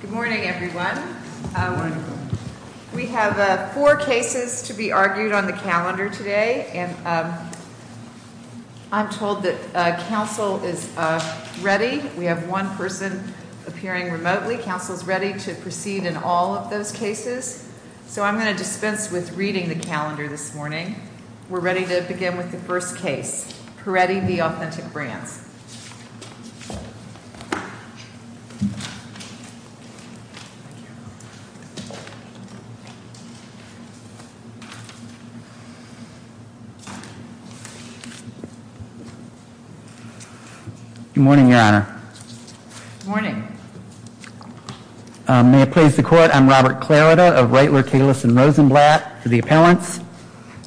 Good morning, everyone. We have four cases to be argued on the calendar today. So I'm going to dispense with reading the calendar this morning. We're ready to begin with the first Good morning, Your Honor. Good morning. May it please the Court, I'm Robert Clarida of Raitler, Kalis & Rosenblatt for the appellants,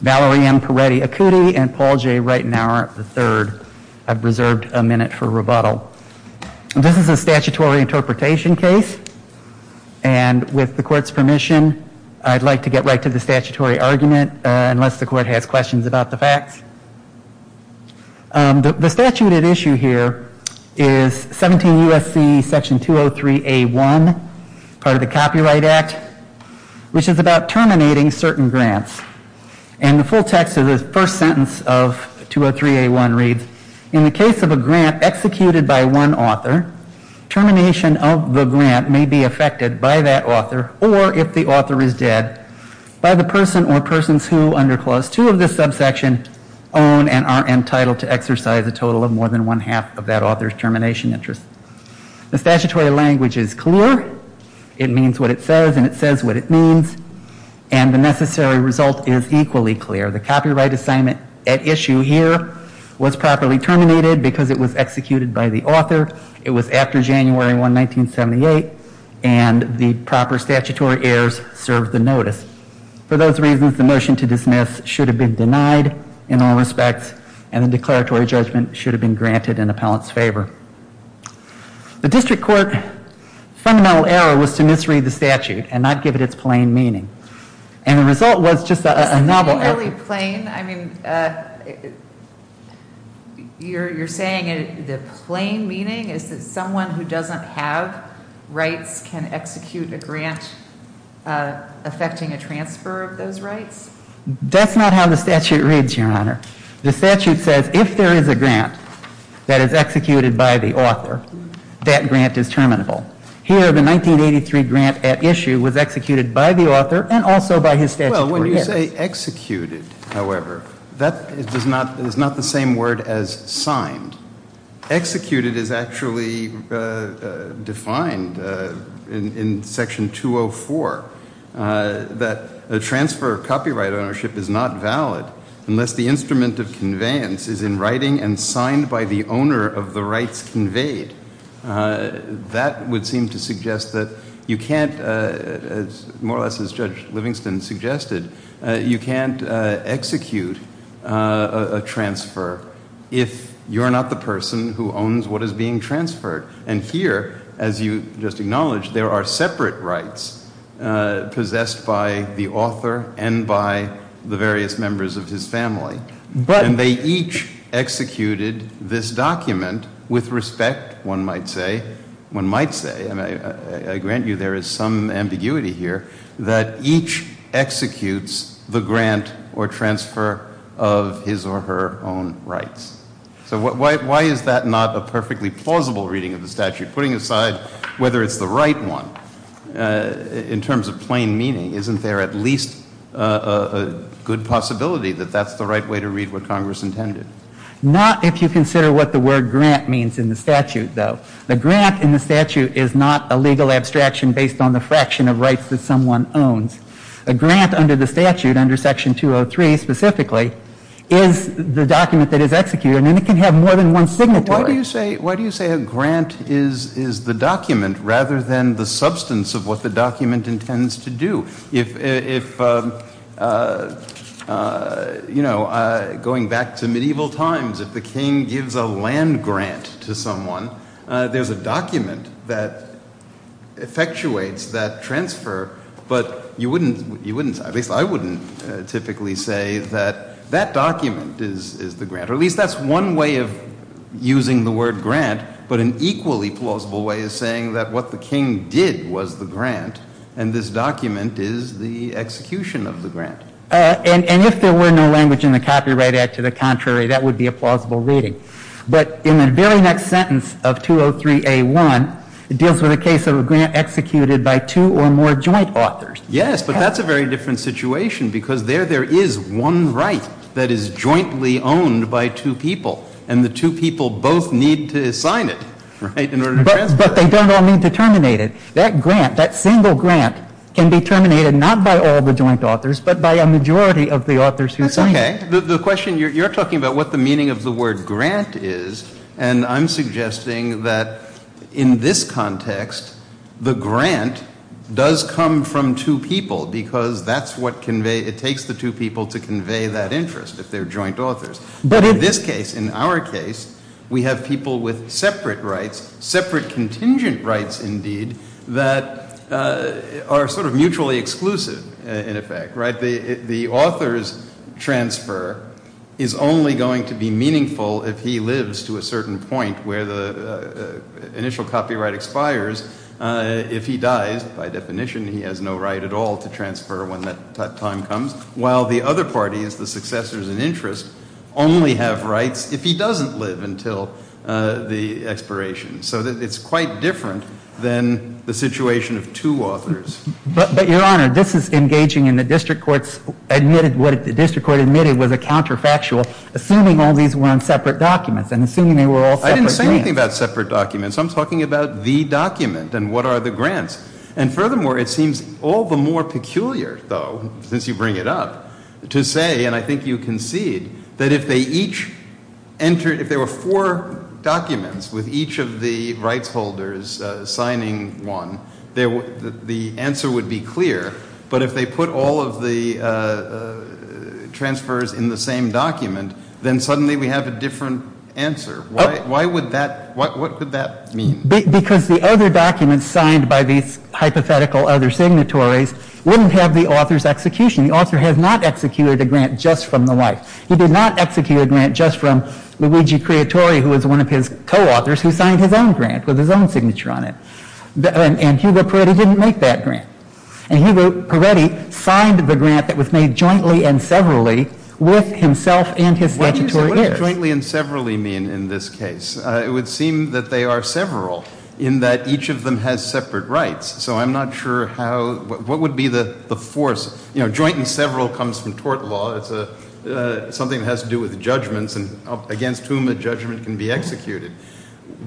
Valerie M. Peretti-Acuti and Paul J. Reitenauer III. I've And with the Court's permission, I'd like to get right to the statutory argument, unless the Court has questions about the facts. The statute at issue here is 17 U.S.C. Section 203A1, part of the Copyright Act, which is about terminating certain grants. And the full text of the first sentence of 203A1 reads, In the case of a grant executed by one author, termination of the grant may be affected by that author or if the author is dead, by the person or persons who, under Clause 2 of this subsection, own and are entitled to exercise a total of more than one-half of that author's termination interest. The statutory language is clear. It means what it says, and it says what it means. And the necessary result is equally clear. The copyright assignment at issue here was properly terminated because it was executed by the author. It was after January 1, 1978, and the proper statutory heirs served the notice. For those reasons, the motion to dismiss should have been denied in all respects, and the declaratory judgment should have been granted in the appellant's favor. The District Court's fundamental error was to misread the statute and not give it its plain meaning. And the result was just a novel... It's not really plain. I mean, you're saying the plain meaning is that someone who doesn't have rights can execute a grant affecting a transfer of those rights? That's not how the statute reads, Your Honor. The statute says if there is a grant that is executed by the author, that grant is terminable. Here, the 1983 grant at issue was executed by the author and also by his statutory heirs. Well, when you say executed, however, that is not the same word as signed. Executed is actually defined in Section 204, that a transfer of copyright ownership is not valid unless the instrument of ownership is conveyed. That would seem to suggest that you can't, more or less as Judge Livingston suggested, you can't execute a transfer if you're not the person who owns what is being transferred. And here, as you just acknowledged, there are separate rights possessed by the author and by the various members of his family. And they each executed this document with respect, one might say, one might say, and I grant you there is some ambiguity here, that each executes the grant or transfer of his or her own rights. So why is that not a perfectly plausible reading of the statute? Putting aside whether it's the right one, in terms of plain meaning, isn't there at least a good possibility that that's the right way to read what Congress intended? Not if you consider what the word grant means in the statute, though. The grant in the statute is not a legal abstraction based on the fraction of rights that someone owns. A grant under the statute, under Section 203 specifically, is the document that is executed, and it can have more than one signatory. Why do you say a grant is the document rather than the substance of what the document intends to do? If, you know, going back to medieval times, if the king gives a land grant to someone, there's a document that effectuates that transfer, but you wouldn't, at least I wouldn't typically say that that document is the grant, or at least that's one way of using the word grant, but an equally plausible way of saying that what the king did was the grant, and this document is the execution of the grant. And if there were no language in the Copyright Act, to the contrary, that would be a plausible reading. But in the very next sentence of 203A1, it deals with a case of a grant executed by two or more joint authors. Yes, but that's a very different situation, because there there is one right that is jointly owned by two people, and the two people both need to sign it, right, in order to transfer it. But they don't all need to terminate it. That grant, that single grant, can be terminated not by all the joint authors, but by a majority of the authors who sign it. That's okay. The question, you're talking about what the meaning of the word grant is, and I'm suggesting that in this case, it takes the two people, because that's what conveys, it takes the two people to convey that interest, if they're joint authors. But in this case, in our case, we have people with separate rights, separate contingent rights, indeed, that are sort of mutually exclusive, in effect, right? The author's transfer is only going to be meaningful if he lives to a certain point where the right, by definition, he has no right at all to transfer when that time comes, while the other party is the successors in interest, only have rights if he doesn't live until the expiration. So it's quite different than the situation of two authors. But, Your Honor, this is engaging in the district court's, what the district court admitted was a counterfactual, assuming all these were on separate documents, and assuming they were all separate grants. I didn't say anything about separate documents. I'm talking about the document and what are the grants. And furthermore, it seems all the more peculiar, though, since you bring it up, to say, and I think you concede, that if they each entered, if there were four documents with each of the rights holders signing one, the answer would be clear, but if they put all of the transfers in the same document, then suddenly we have a different answer. Why would that, what would that mean? Because the other documents signed by these hypothetical other signatories wouldn't have the author's execution. The author has not executed a grant just from the wife. He did not execute a grant just from Luigi Creatore, who was one of his co-authors, who signed his own grant with his own What do you say, what does jointly and severally mean in this case? It would seem that they are several in that each of them has separate rights. So I'm not sure how, what would be the force? You know, joint and several comes from tort law. It's something that has to do with judgments and against whom a judgment can be executed.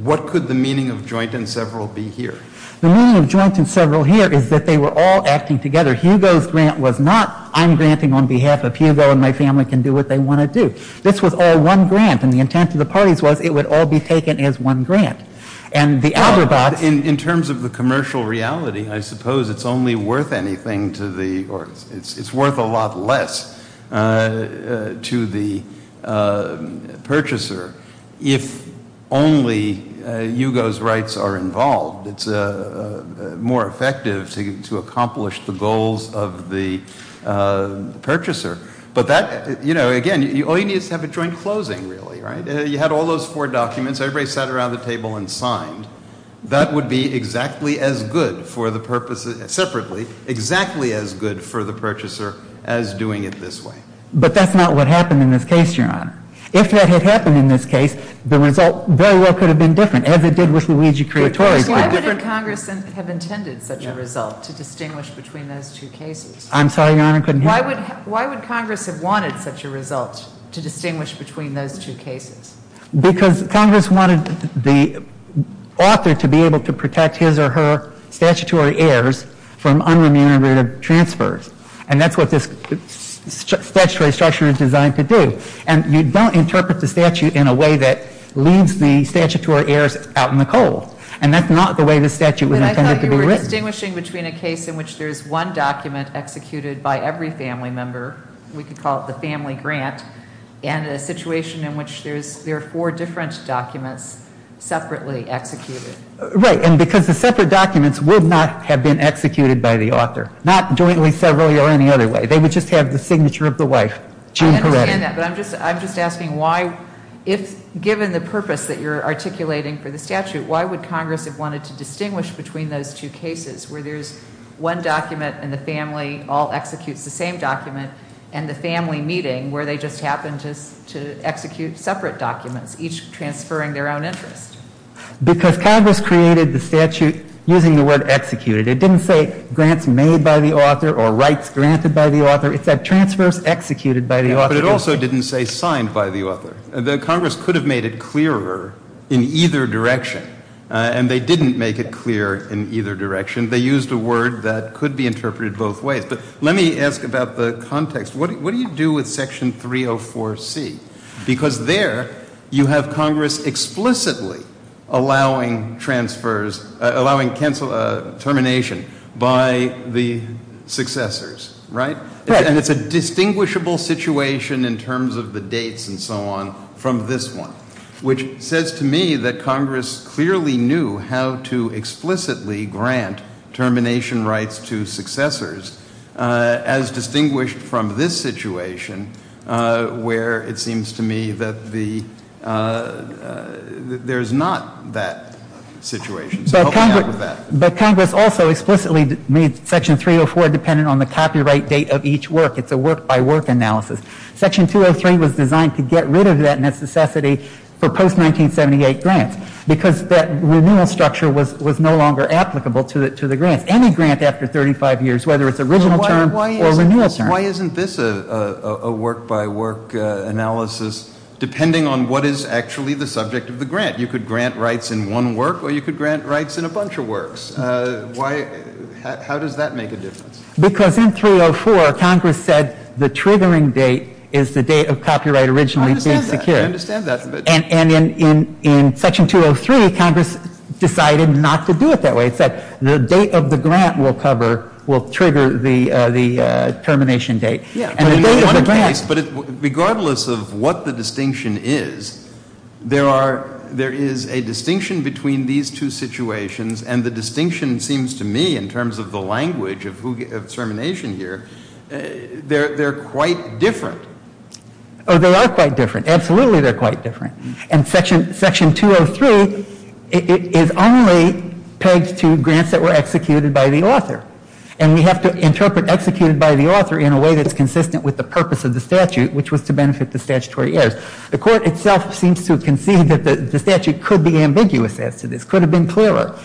What could the meaning of joint and several be here? The meaning of joint and several here is that they were all acting together. Hugo's grant was not, I'm granting on behalf of Hugo and my family can do what they want to do. This was all one grant and the intent of the parties was it would all be taken as one grant. And the Algorabats... In terms of the commercial reality, I suppose it's only worth anything to the, it's worth a lot less to the more effective to accomplish the goals of the purchaser. But that, you know, again, all you need is to have a joint closing, really, right? You had all those four documents, everybody sat around the table and signed. That would be exactly as good for the purpose, separately, exactly as good for the purchaser as doing it this way. But that's not what happened in this case, Your Honor. If that had happened in this case, the result very well could have been different, as it did with Luigi Creatore. Why would Congress have intended such a result to distinguish between those two cases? Why would Congress have wanted such a result to distinguish between those two cases? Because Congress wanted the author to be able to protect his or her statutory heirs from the statute in a way that leaves the statutory heirs out in the cold. And that's not the way the statute was intended to be written. But I thought you were distinguishing between a case in which there's one document executed by every family member, we could call it the family grant, and a situation in which there's, there are four different documents separately executed. Right. And because the separate documents would not have been executed by the author, not jointly separately or any other way. They would just have the signature of the wife. I understand that, but I'm just asking why if, given the purpose that you're articulating for the statute, why would Congress have wanted to distinguish between those two cases, where there's one document and the family all executes the same document, and the family meeting where they just happen to execute separate documents, each transferring their own interest? Because Congress created the statute using the word executed. It didn't say grants made by the author or rights granted by the author. It said transfers executed by the author. But it also didn't say signed by the author. The Congress could have made it clearer in either direction. And they didn't make it clear in either direction. They used a word that could be interpreted both ways. But let me ask about the context. What do you do with Section 304C? Because there, you have Congress explicitly allowing transfers, allowing termination by the successors. Right? And it's a distinguishable situation in terms of the dates and so on from this one. Which says to me that Congress clearly knew how to explicitly grant termination rights to successors, as distinguished from this situation, where it seems to me that there's not that situation. So help me out with that. But Congress also explicitly made Section 304 dependent on the copyright date of each work. It's a work-by-work analysis. Section 203 was designed to get rid of that necessity for post-1978 grants, because that renewal structure was no longer applicable to the grants. Any grant after 35 years, whether it's original term or renewal term. Why isn't this a work-by-work analysis, depending on what is actually the subject of the grant? You could grant rights in one work, or you could grant rights in a bunch of works. How does that make a difference? Because in 304, Congress said the triggering date is the date of copyright originally being secured. I understand that. I understand that. And in Section 203, Congress decided not to do it that way. It said the date of the grant. But regardless of what the distinction is, there is a distinction between these two situations, and the distinction seems to me, in terms of the language of termination here, they're quite different. Oh, they are quite different. Absolutely they're quite different. And Section 203 is only pegged to grants that were granted in a way that's consistent with the purpose of the statute, which was to benefit the statutory heirs. The court itself seems to concede that the statute could be ambiguous as to this. Could have been clearer.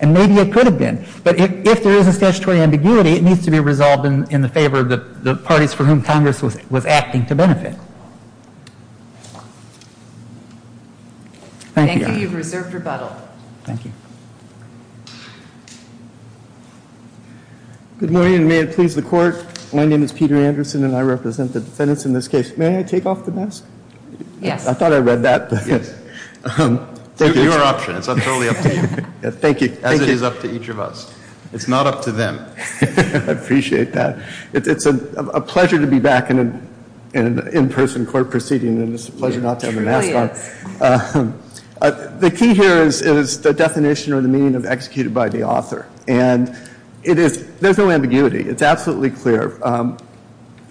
And maybe it could have been. But if there is a statutory ambiguity, it needs to be resolved in the favor of the parties for whom Congress was acting to benefit. Thank you. Thank you. You've reserved rebuttal. Thank you. Good morning. May it please the Court. My name is Peter Anderson, and I represent the defendants in this case. May I take off the mask? Yes. I thought I read that. Yes. Your option. It's totally up to you. Thank you. As it is up to each of us. It's not up to them. I appreciate that. It's a pleasure to be back in an in-person court proceeding, and it's a pleasure not to have a mask on. The key here is the definition or the meaning of executed by the author. And there's no ambiguity. It's absolutely clear.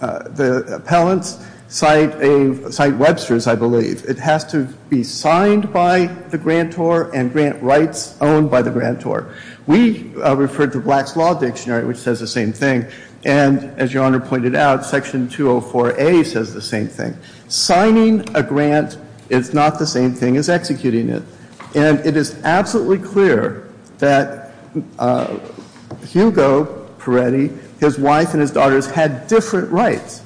The appellants cite Webster's, I believe. It has to be signed by the grantor and grant rights owned by the grantor. We referred to Black's Law Dictionary, which says the same thing. And as Your Honor pointed out, Section 204A says the same thing. Signing a grant is not the same thing as executing it. And it is absolutely clear that Hugo Peretti, his wife and his daughters had different rights.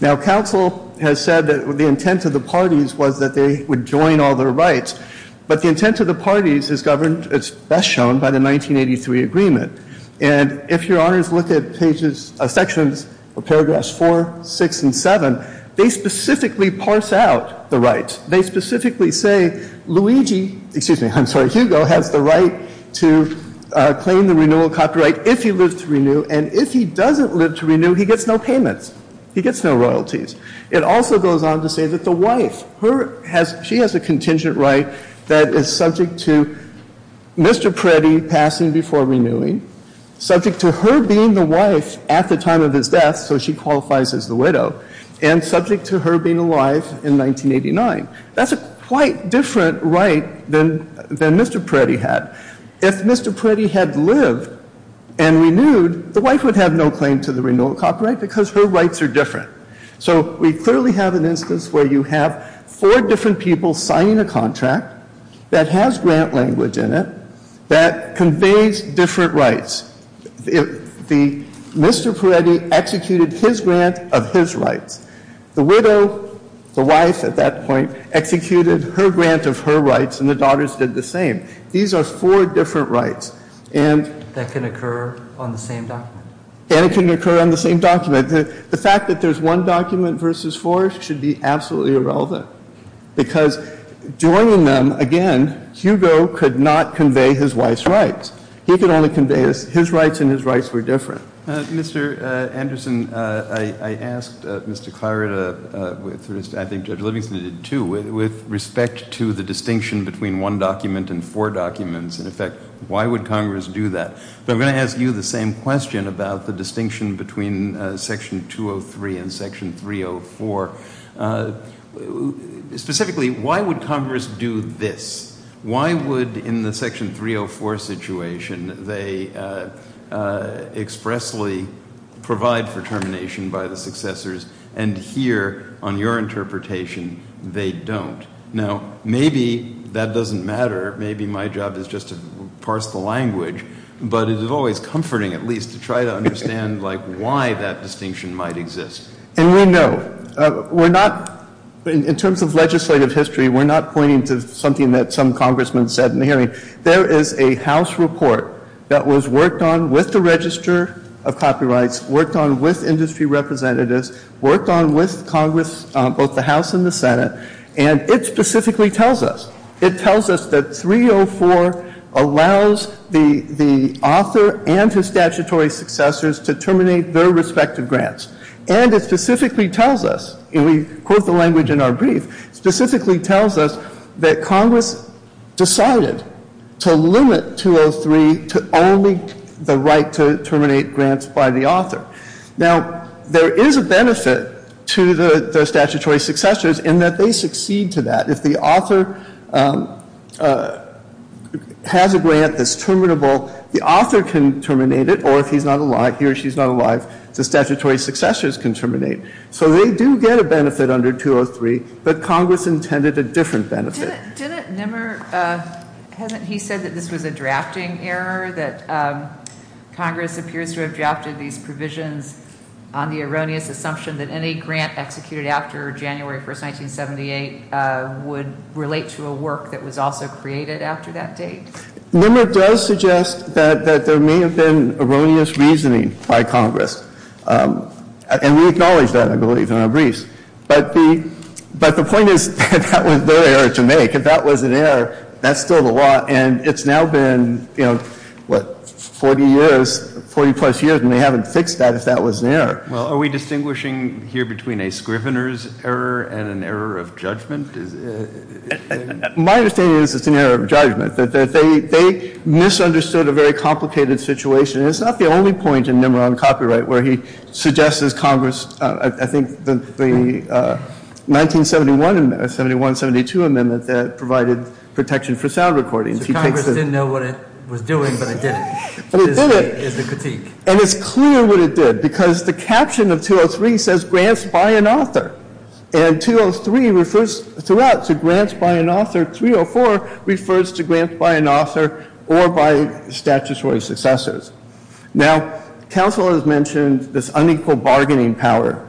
Now, counsel has said that the intent of the parties was that they would join all their rights. But the intent of the parties is governed, it's best shown by the 1983 agreement. And if Your Honors look at pages, sections or paragraphs four, six and seven, they specifically parse out the rights. They specifically say Luigi, excuse me, I'm sorry, Hugo has the right to claim the renewal copyright if he lives to renew. And if he doesn't live to renew, he gets no payments. He gets no royalties. It also goes on to say that the wife, she has a contingent right that is subject to Mr. Peretti passing before renewing, subject to her being the wife at the time of his death, so she qualifies as the widow, and subject to her being alive in 1989. That's a quite different right than Mr. Peretti had. If Mr. Peretti had lived and renewed, the wife would have no claim to the renewal copyright because her rights are different. So we clearly have an instance where you have four different people signing a contract that has grant language in it that conveys different rights. The Mr. Peretti executed his grant of his rights. The widow, the wife at that point, executed her grant of her rights, and the daughters did the same. These are four different rights, and... That can occur on the same document. And it can occur on the same document. The fact that there's one document versus four should be absolutely irrelevant because joining them, again, Hugo could not convey his wife's rights. He could only convey his rights, and his rights were different. Mr. Anderson, I asked Mr. Clarida, I think Judge Livingston did too, with respect to the distinction between one document and four documents. In effect, why would Congress do that? But I'm going to ask you the same question about the distinction between Section 203 and Section 304. Specifically, why would Congress do this? Why would, in the Section 304 situation, they expressly provide for termination by the successors, and here, on your interpretation, they don't? Now, maybe that doesn't matter. Maybe my job is just to parse the language, but it is always comforting, at least, to try to understand, like, why that distinction might exist. And we know. We're not, in terms of legislative history, we're not pointing to something that some congressman said in the hearing. There is a House report that was worked on with the Register of Copyrights, worked on with industry representatives, worked on with Congress, both the House and the Senate, and it specifically tells us. It tells us that 304 allows the author and his statutory successors to terminate their respective grants. And it specifically tells us, and we quote the language in our brief, specifically tells us that Congress decided to limit 203 to only the right to terminate grants by the author. Now, there is a benefit to the statutory successors in that they succeed to that. If the author has a grant that's terminable, the author can terminate it, or if he's not alive, he or she's not alive, the statutory successors can terminate. So they do get a benefit under 203, but Congress intended a different benefit. Didn't Nimmer, hasn't he said that this was a drafting error, that Congress appears to have drafted these provisions on the erroneous assumption that any grant executed after January 1, 1978 would relate to a work that was also created after that date? Nimmer does suggest that there may have been erroneous reasoning by Congress. And we acknowledge that, I believe, in our briefs. But the point is that that was their error to make. If that was an error, that's still the law. And it's now been, you know, what, 40 years, 40-plus years, and they haven't fixed that if that was an error. Well, are we distinguishing here between a scrivener's error and an error of judgment? My understanding is it's an error of judgment, that they misunderstood a very complicated situation. And it's not the only point in Nimmer on copyright where he suggests, as Congress, I think the 1971-72 amendment that provided protection for sound recordings. So Congress didn't know what it was doing, but it did it, is the critique. And it's clear what it did, because the caption of 203 says grants by an author. And 203 refers throughout to grants by an author. 304 refers to grants by an author or by statutory successors. Now, counsel has mentioned this unequal bargaining power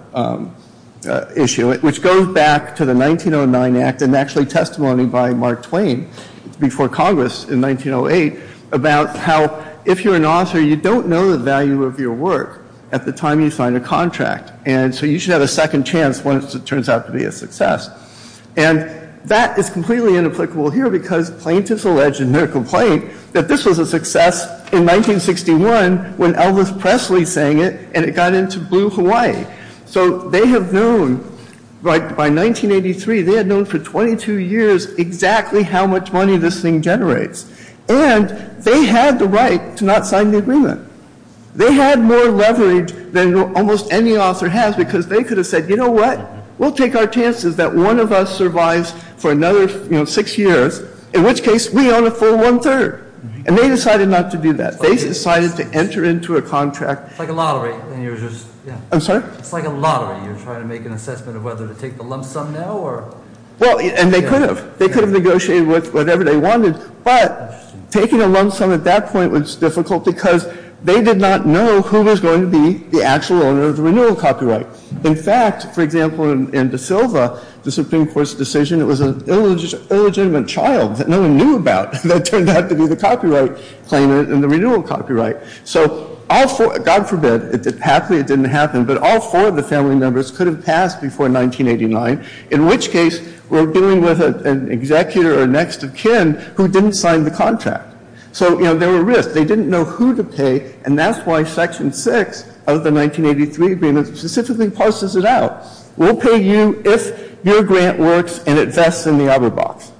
issue, which goes back to the 1909 Act and actually testimony by Mark Twain before Congress in 1908 about how if you're an author, you don't know the value of your work at the time you sign a contract. And so you should have a second chance once it turns out to be a success. And that is completely inapplicable here, because plaintiffs allege in their complaint that this was a success in 1961 when Elvis Presley sang it, and it got into Blue Hawaii. So they have known, by 1983, they had known for 22 years exactly how much money this thing generates. And they had the right to not sign the agreement. They had more leverage than almost any author has, because they could have said, you know what, we'll take our chances that one of us survives for another six years, in which case we own a full one-third. And they decided not to do that. They decided to enter into a contract. It's like a lottery. I'm sorry? It's like a lottery. You're trying to make an assessment of whether to take the lump sum now or— Well, and they could have. They could have negotiated with whatever they wanted. But taking a lump sum at that point was difficult, because they did not know who was going to be the actual owner of the renewal copyright. In fact, for example, in De Silva, the Supreme Court's decision, it was an illegitimate child that no one knew about that turned out to be the copyright claimant in the renewal copyright. So, God forbid, it didn't happen, but all four of the family members could have passed before 1989, in which case we're dealing with an executor or next of kin who didn't sign the contract. So, you know, there were risks. They didn't know who to pay, and that's why Section 6 of the 1983 agreement specifically parses it out. We'll pay you if your grant works and it vests in the other box.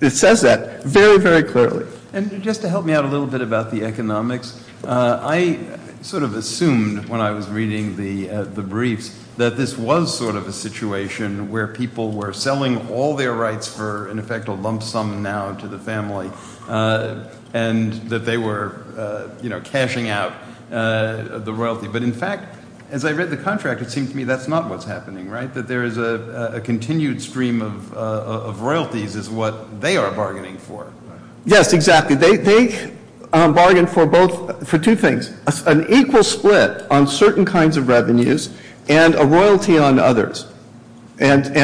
It says that very, very clearly. And just to help me out a little bit about the economics, I sort of assumed when I was reading the briefs that this was sort of a situation where people were selling all their rights for, in effect, a lump sum now to the family and that they were, you know, cashing out the royalty. But, in fact, as I read the contract, it seemed to me that's not what's happening, right, that there is a continued stream of royalties is what they are bargaining for. Yes, exactly. They bargained for two things, an equal split on certain kinds of revenues and a royalty on others, which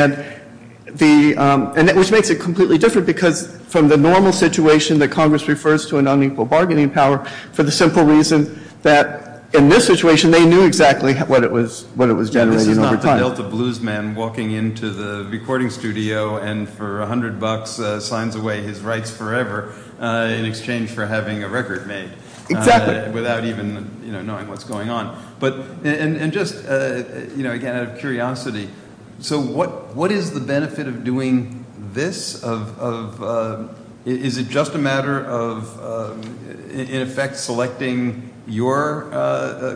makes it completely different because from the normal situation that Congress refers to an unequal bargaining power, for the simple reason that in this situation they knew exactly what it was generating over time. It's like a Delta blues man walking into the recording studio and for 100 bucks signs away his rights forever in exchange for having a record made. Exactly. Without even, you know, knowing what's going on. And just, you know, again, out of curiosity, so what is the benefit of doing this? Is it just a matter of, in effect, selecting your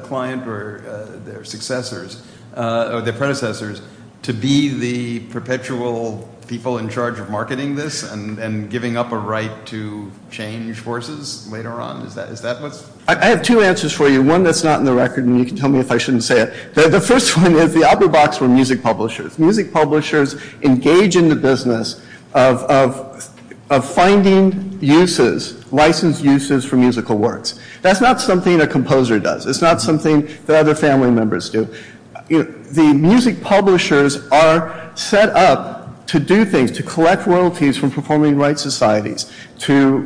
client or their successors or their predecessors to be the perpetual people in charge of marketing this and giving up a right to change forces later on? Is that what's? I have two answers for you. One that's not in the record and you can tell me if I shouldn't say it. The first one is the opera box were music publishers. Music publishers engage in the business of finding uses, licensed uses for musical works. That's not something a composer does. It's not something that other family members do. The music publishers are set up to do things, to collect royalties from performing rights societies, to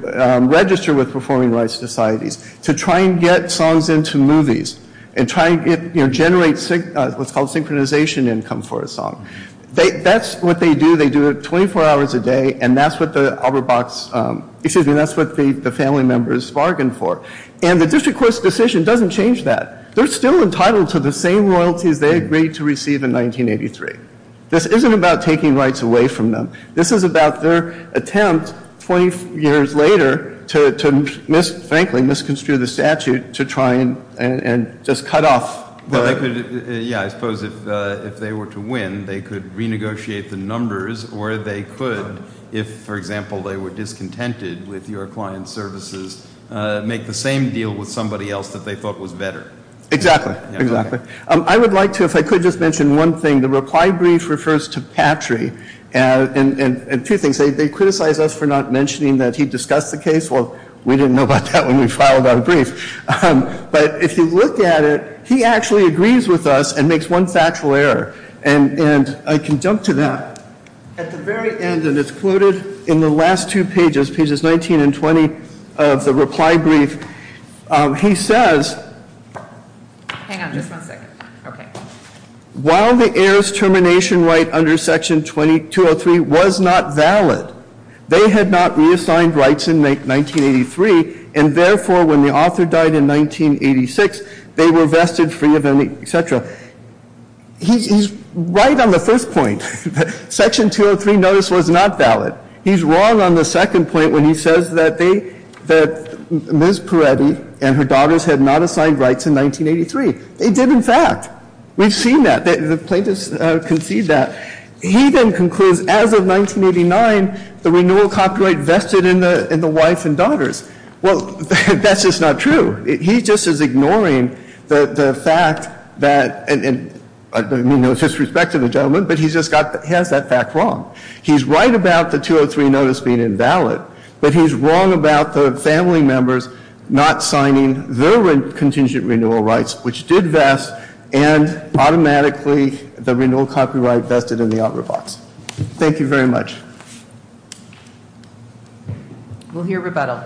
register with performing rights societies, to try and get songs into movies and try and get, you know, generate what's called synchronization income for a song. That's what they do. They do it 24 hours a day and that's what the opera box, excuse me, that's what the family members bargain for. And the district court's decision doesn't change that. They're still entitled to the same royalties they agreed to receive in 1983. This isn't about taking rights away from them. This is about their attempt 20 years later to, frankly, misconstrue the statute to try and just cut off. Yeah, I suppose if they were to win, they could renegotiate the numbers or they could, if, for example, they were discontented with your client's services, make the same deal with somebody else that they thought was better. Exactly. I would like to, if I could, just mention one thing. The reply brief refers to Patry and two things. They criticize us for not mentioning that he discussed the case. Well, we didn't know about that when we filed our brief. But if you look at it, he actually agrees with us and makes one factual error. And I can jump to that. At the very end, and it's quoted in the last two pages, pages 19 and 20 of the reply brief, he says- Hang on just one second. Okay. While the heirs' termination right under section 2203 was not valid, they had not reassigned rights in 1983, and therefore when the author died in 1986, they were vested free of any, et cetera. He's right on the first point. Section 203 notice was not valid. He's wrong on the second point when he says that they, that Ms. Peretti and her daughters had not assigned rights in 1983. They did, in fact. We've seen that. The plaintiffs concede that. He then concludes, as of 1989, the renewal copyright vested in the wife and daughters. Well, that's just not true. He just is ignoring the fact that, and I don't mean no disrespect to the gentleman, but he's just got, he has that fact wrong. He's right about the 203 notice being invalid, but he's wrong about the family members not signing their contingent renewal rights, which did vest, and automatically the renewal copyright vested in the opera box. Thank you very much. We'll hear rebuttal.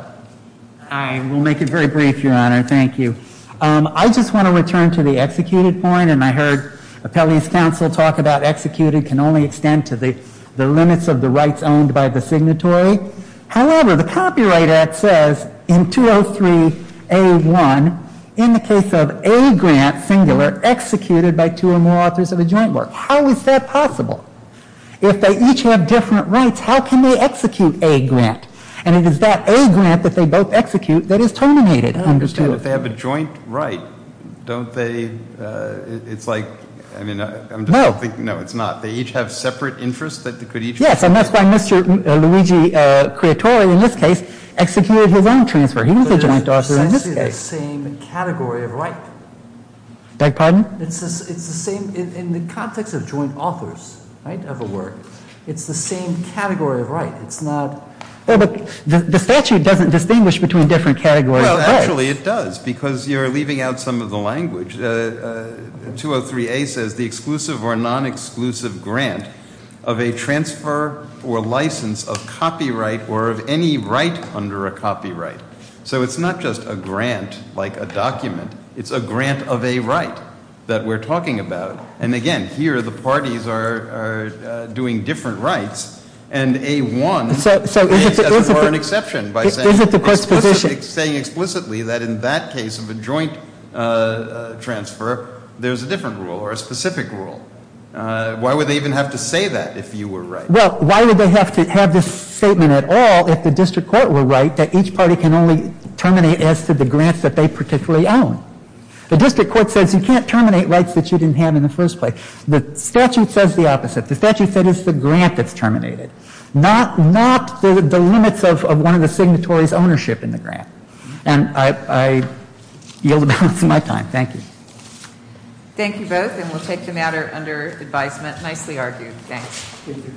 I will make it very brief, Your Honor. Thank you. I just want to return to the executed point, and I heard appellee's counsel talk about executed can only extend to the limits of the rights owned by the signatory. However, the Copyright Act says in 203A1, in the case of a grant, singular, executed by two or more authors of a joint work. How is that possible? If they each have different rights, how can they execute a grant? And it is that a grant that they both execute that is terminated under 203. But if they have a joint right, don't they, it's like, I mean, I'm just thinking. No. No, it's not. They each have separate interests that they could each. Yes, and that's why Mr. Luigi Creatore, in this case, executed his own transfer. He was a joint author in this case. But it's essentially the same category of right. Beg pardon? It's the same in the context of joint authors, right, of a work. It's the same category of right. It's not. Well, but the statute doesn't distinguish between different categories of rights. Well, actually it does because you're leaving out some of the language. 203A says the exclusive or non-exclusive grant of a transfer or license of copyright or of any right under a copyright. So it's not just a grant like a document. It's a grant of a right that we're talking about. And, again, here the parties are doing different rights. So is it the court's position? Saying explicitly that in that case of a joint transfer, there's a different rule or a specific rule. Why would they even have to say that if you were right? Well, why would they have to have this statement at all if the district court were right, that each party can only terminate as to the grants that they particularly own? The district court says you can't terminate rights that you didn't have in the first place. The statute says the opposite. The statute says it's the grant that's terminated, not the limits of one of the signatories' ownership in the grant. And I yield the balance of my time. Thank you. Thank you both, and we'll take the matter under advisement. Nicely argued. Thanks.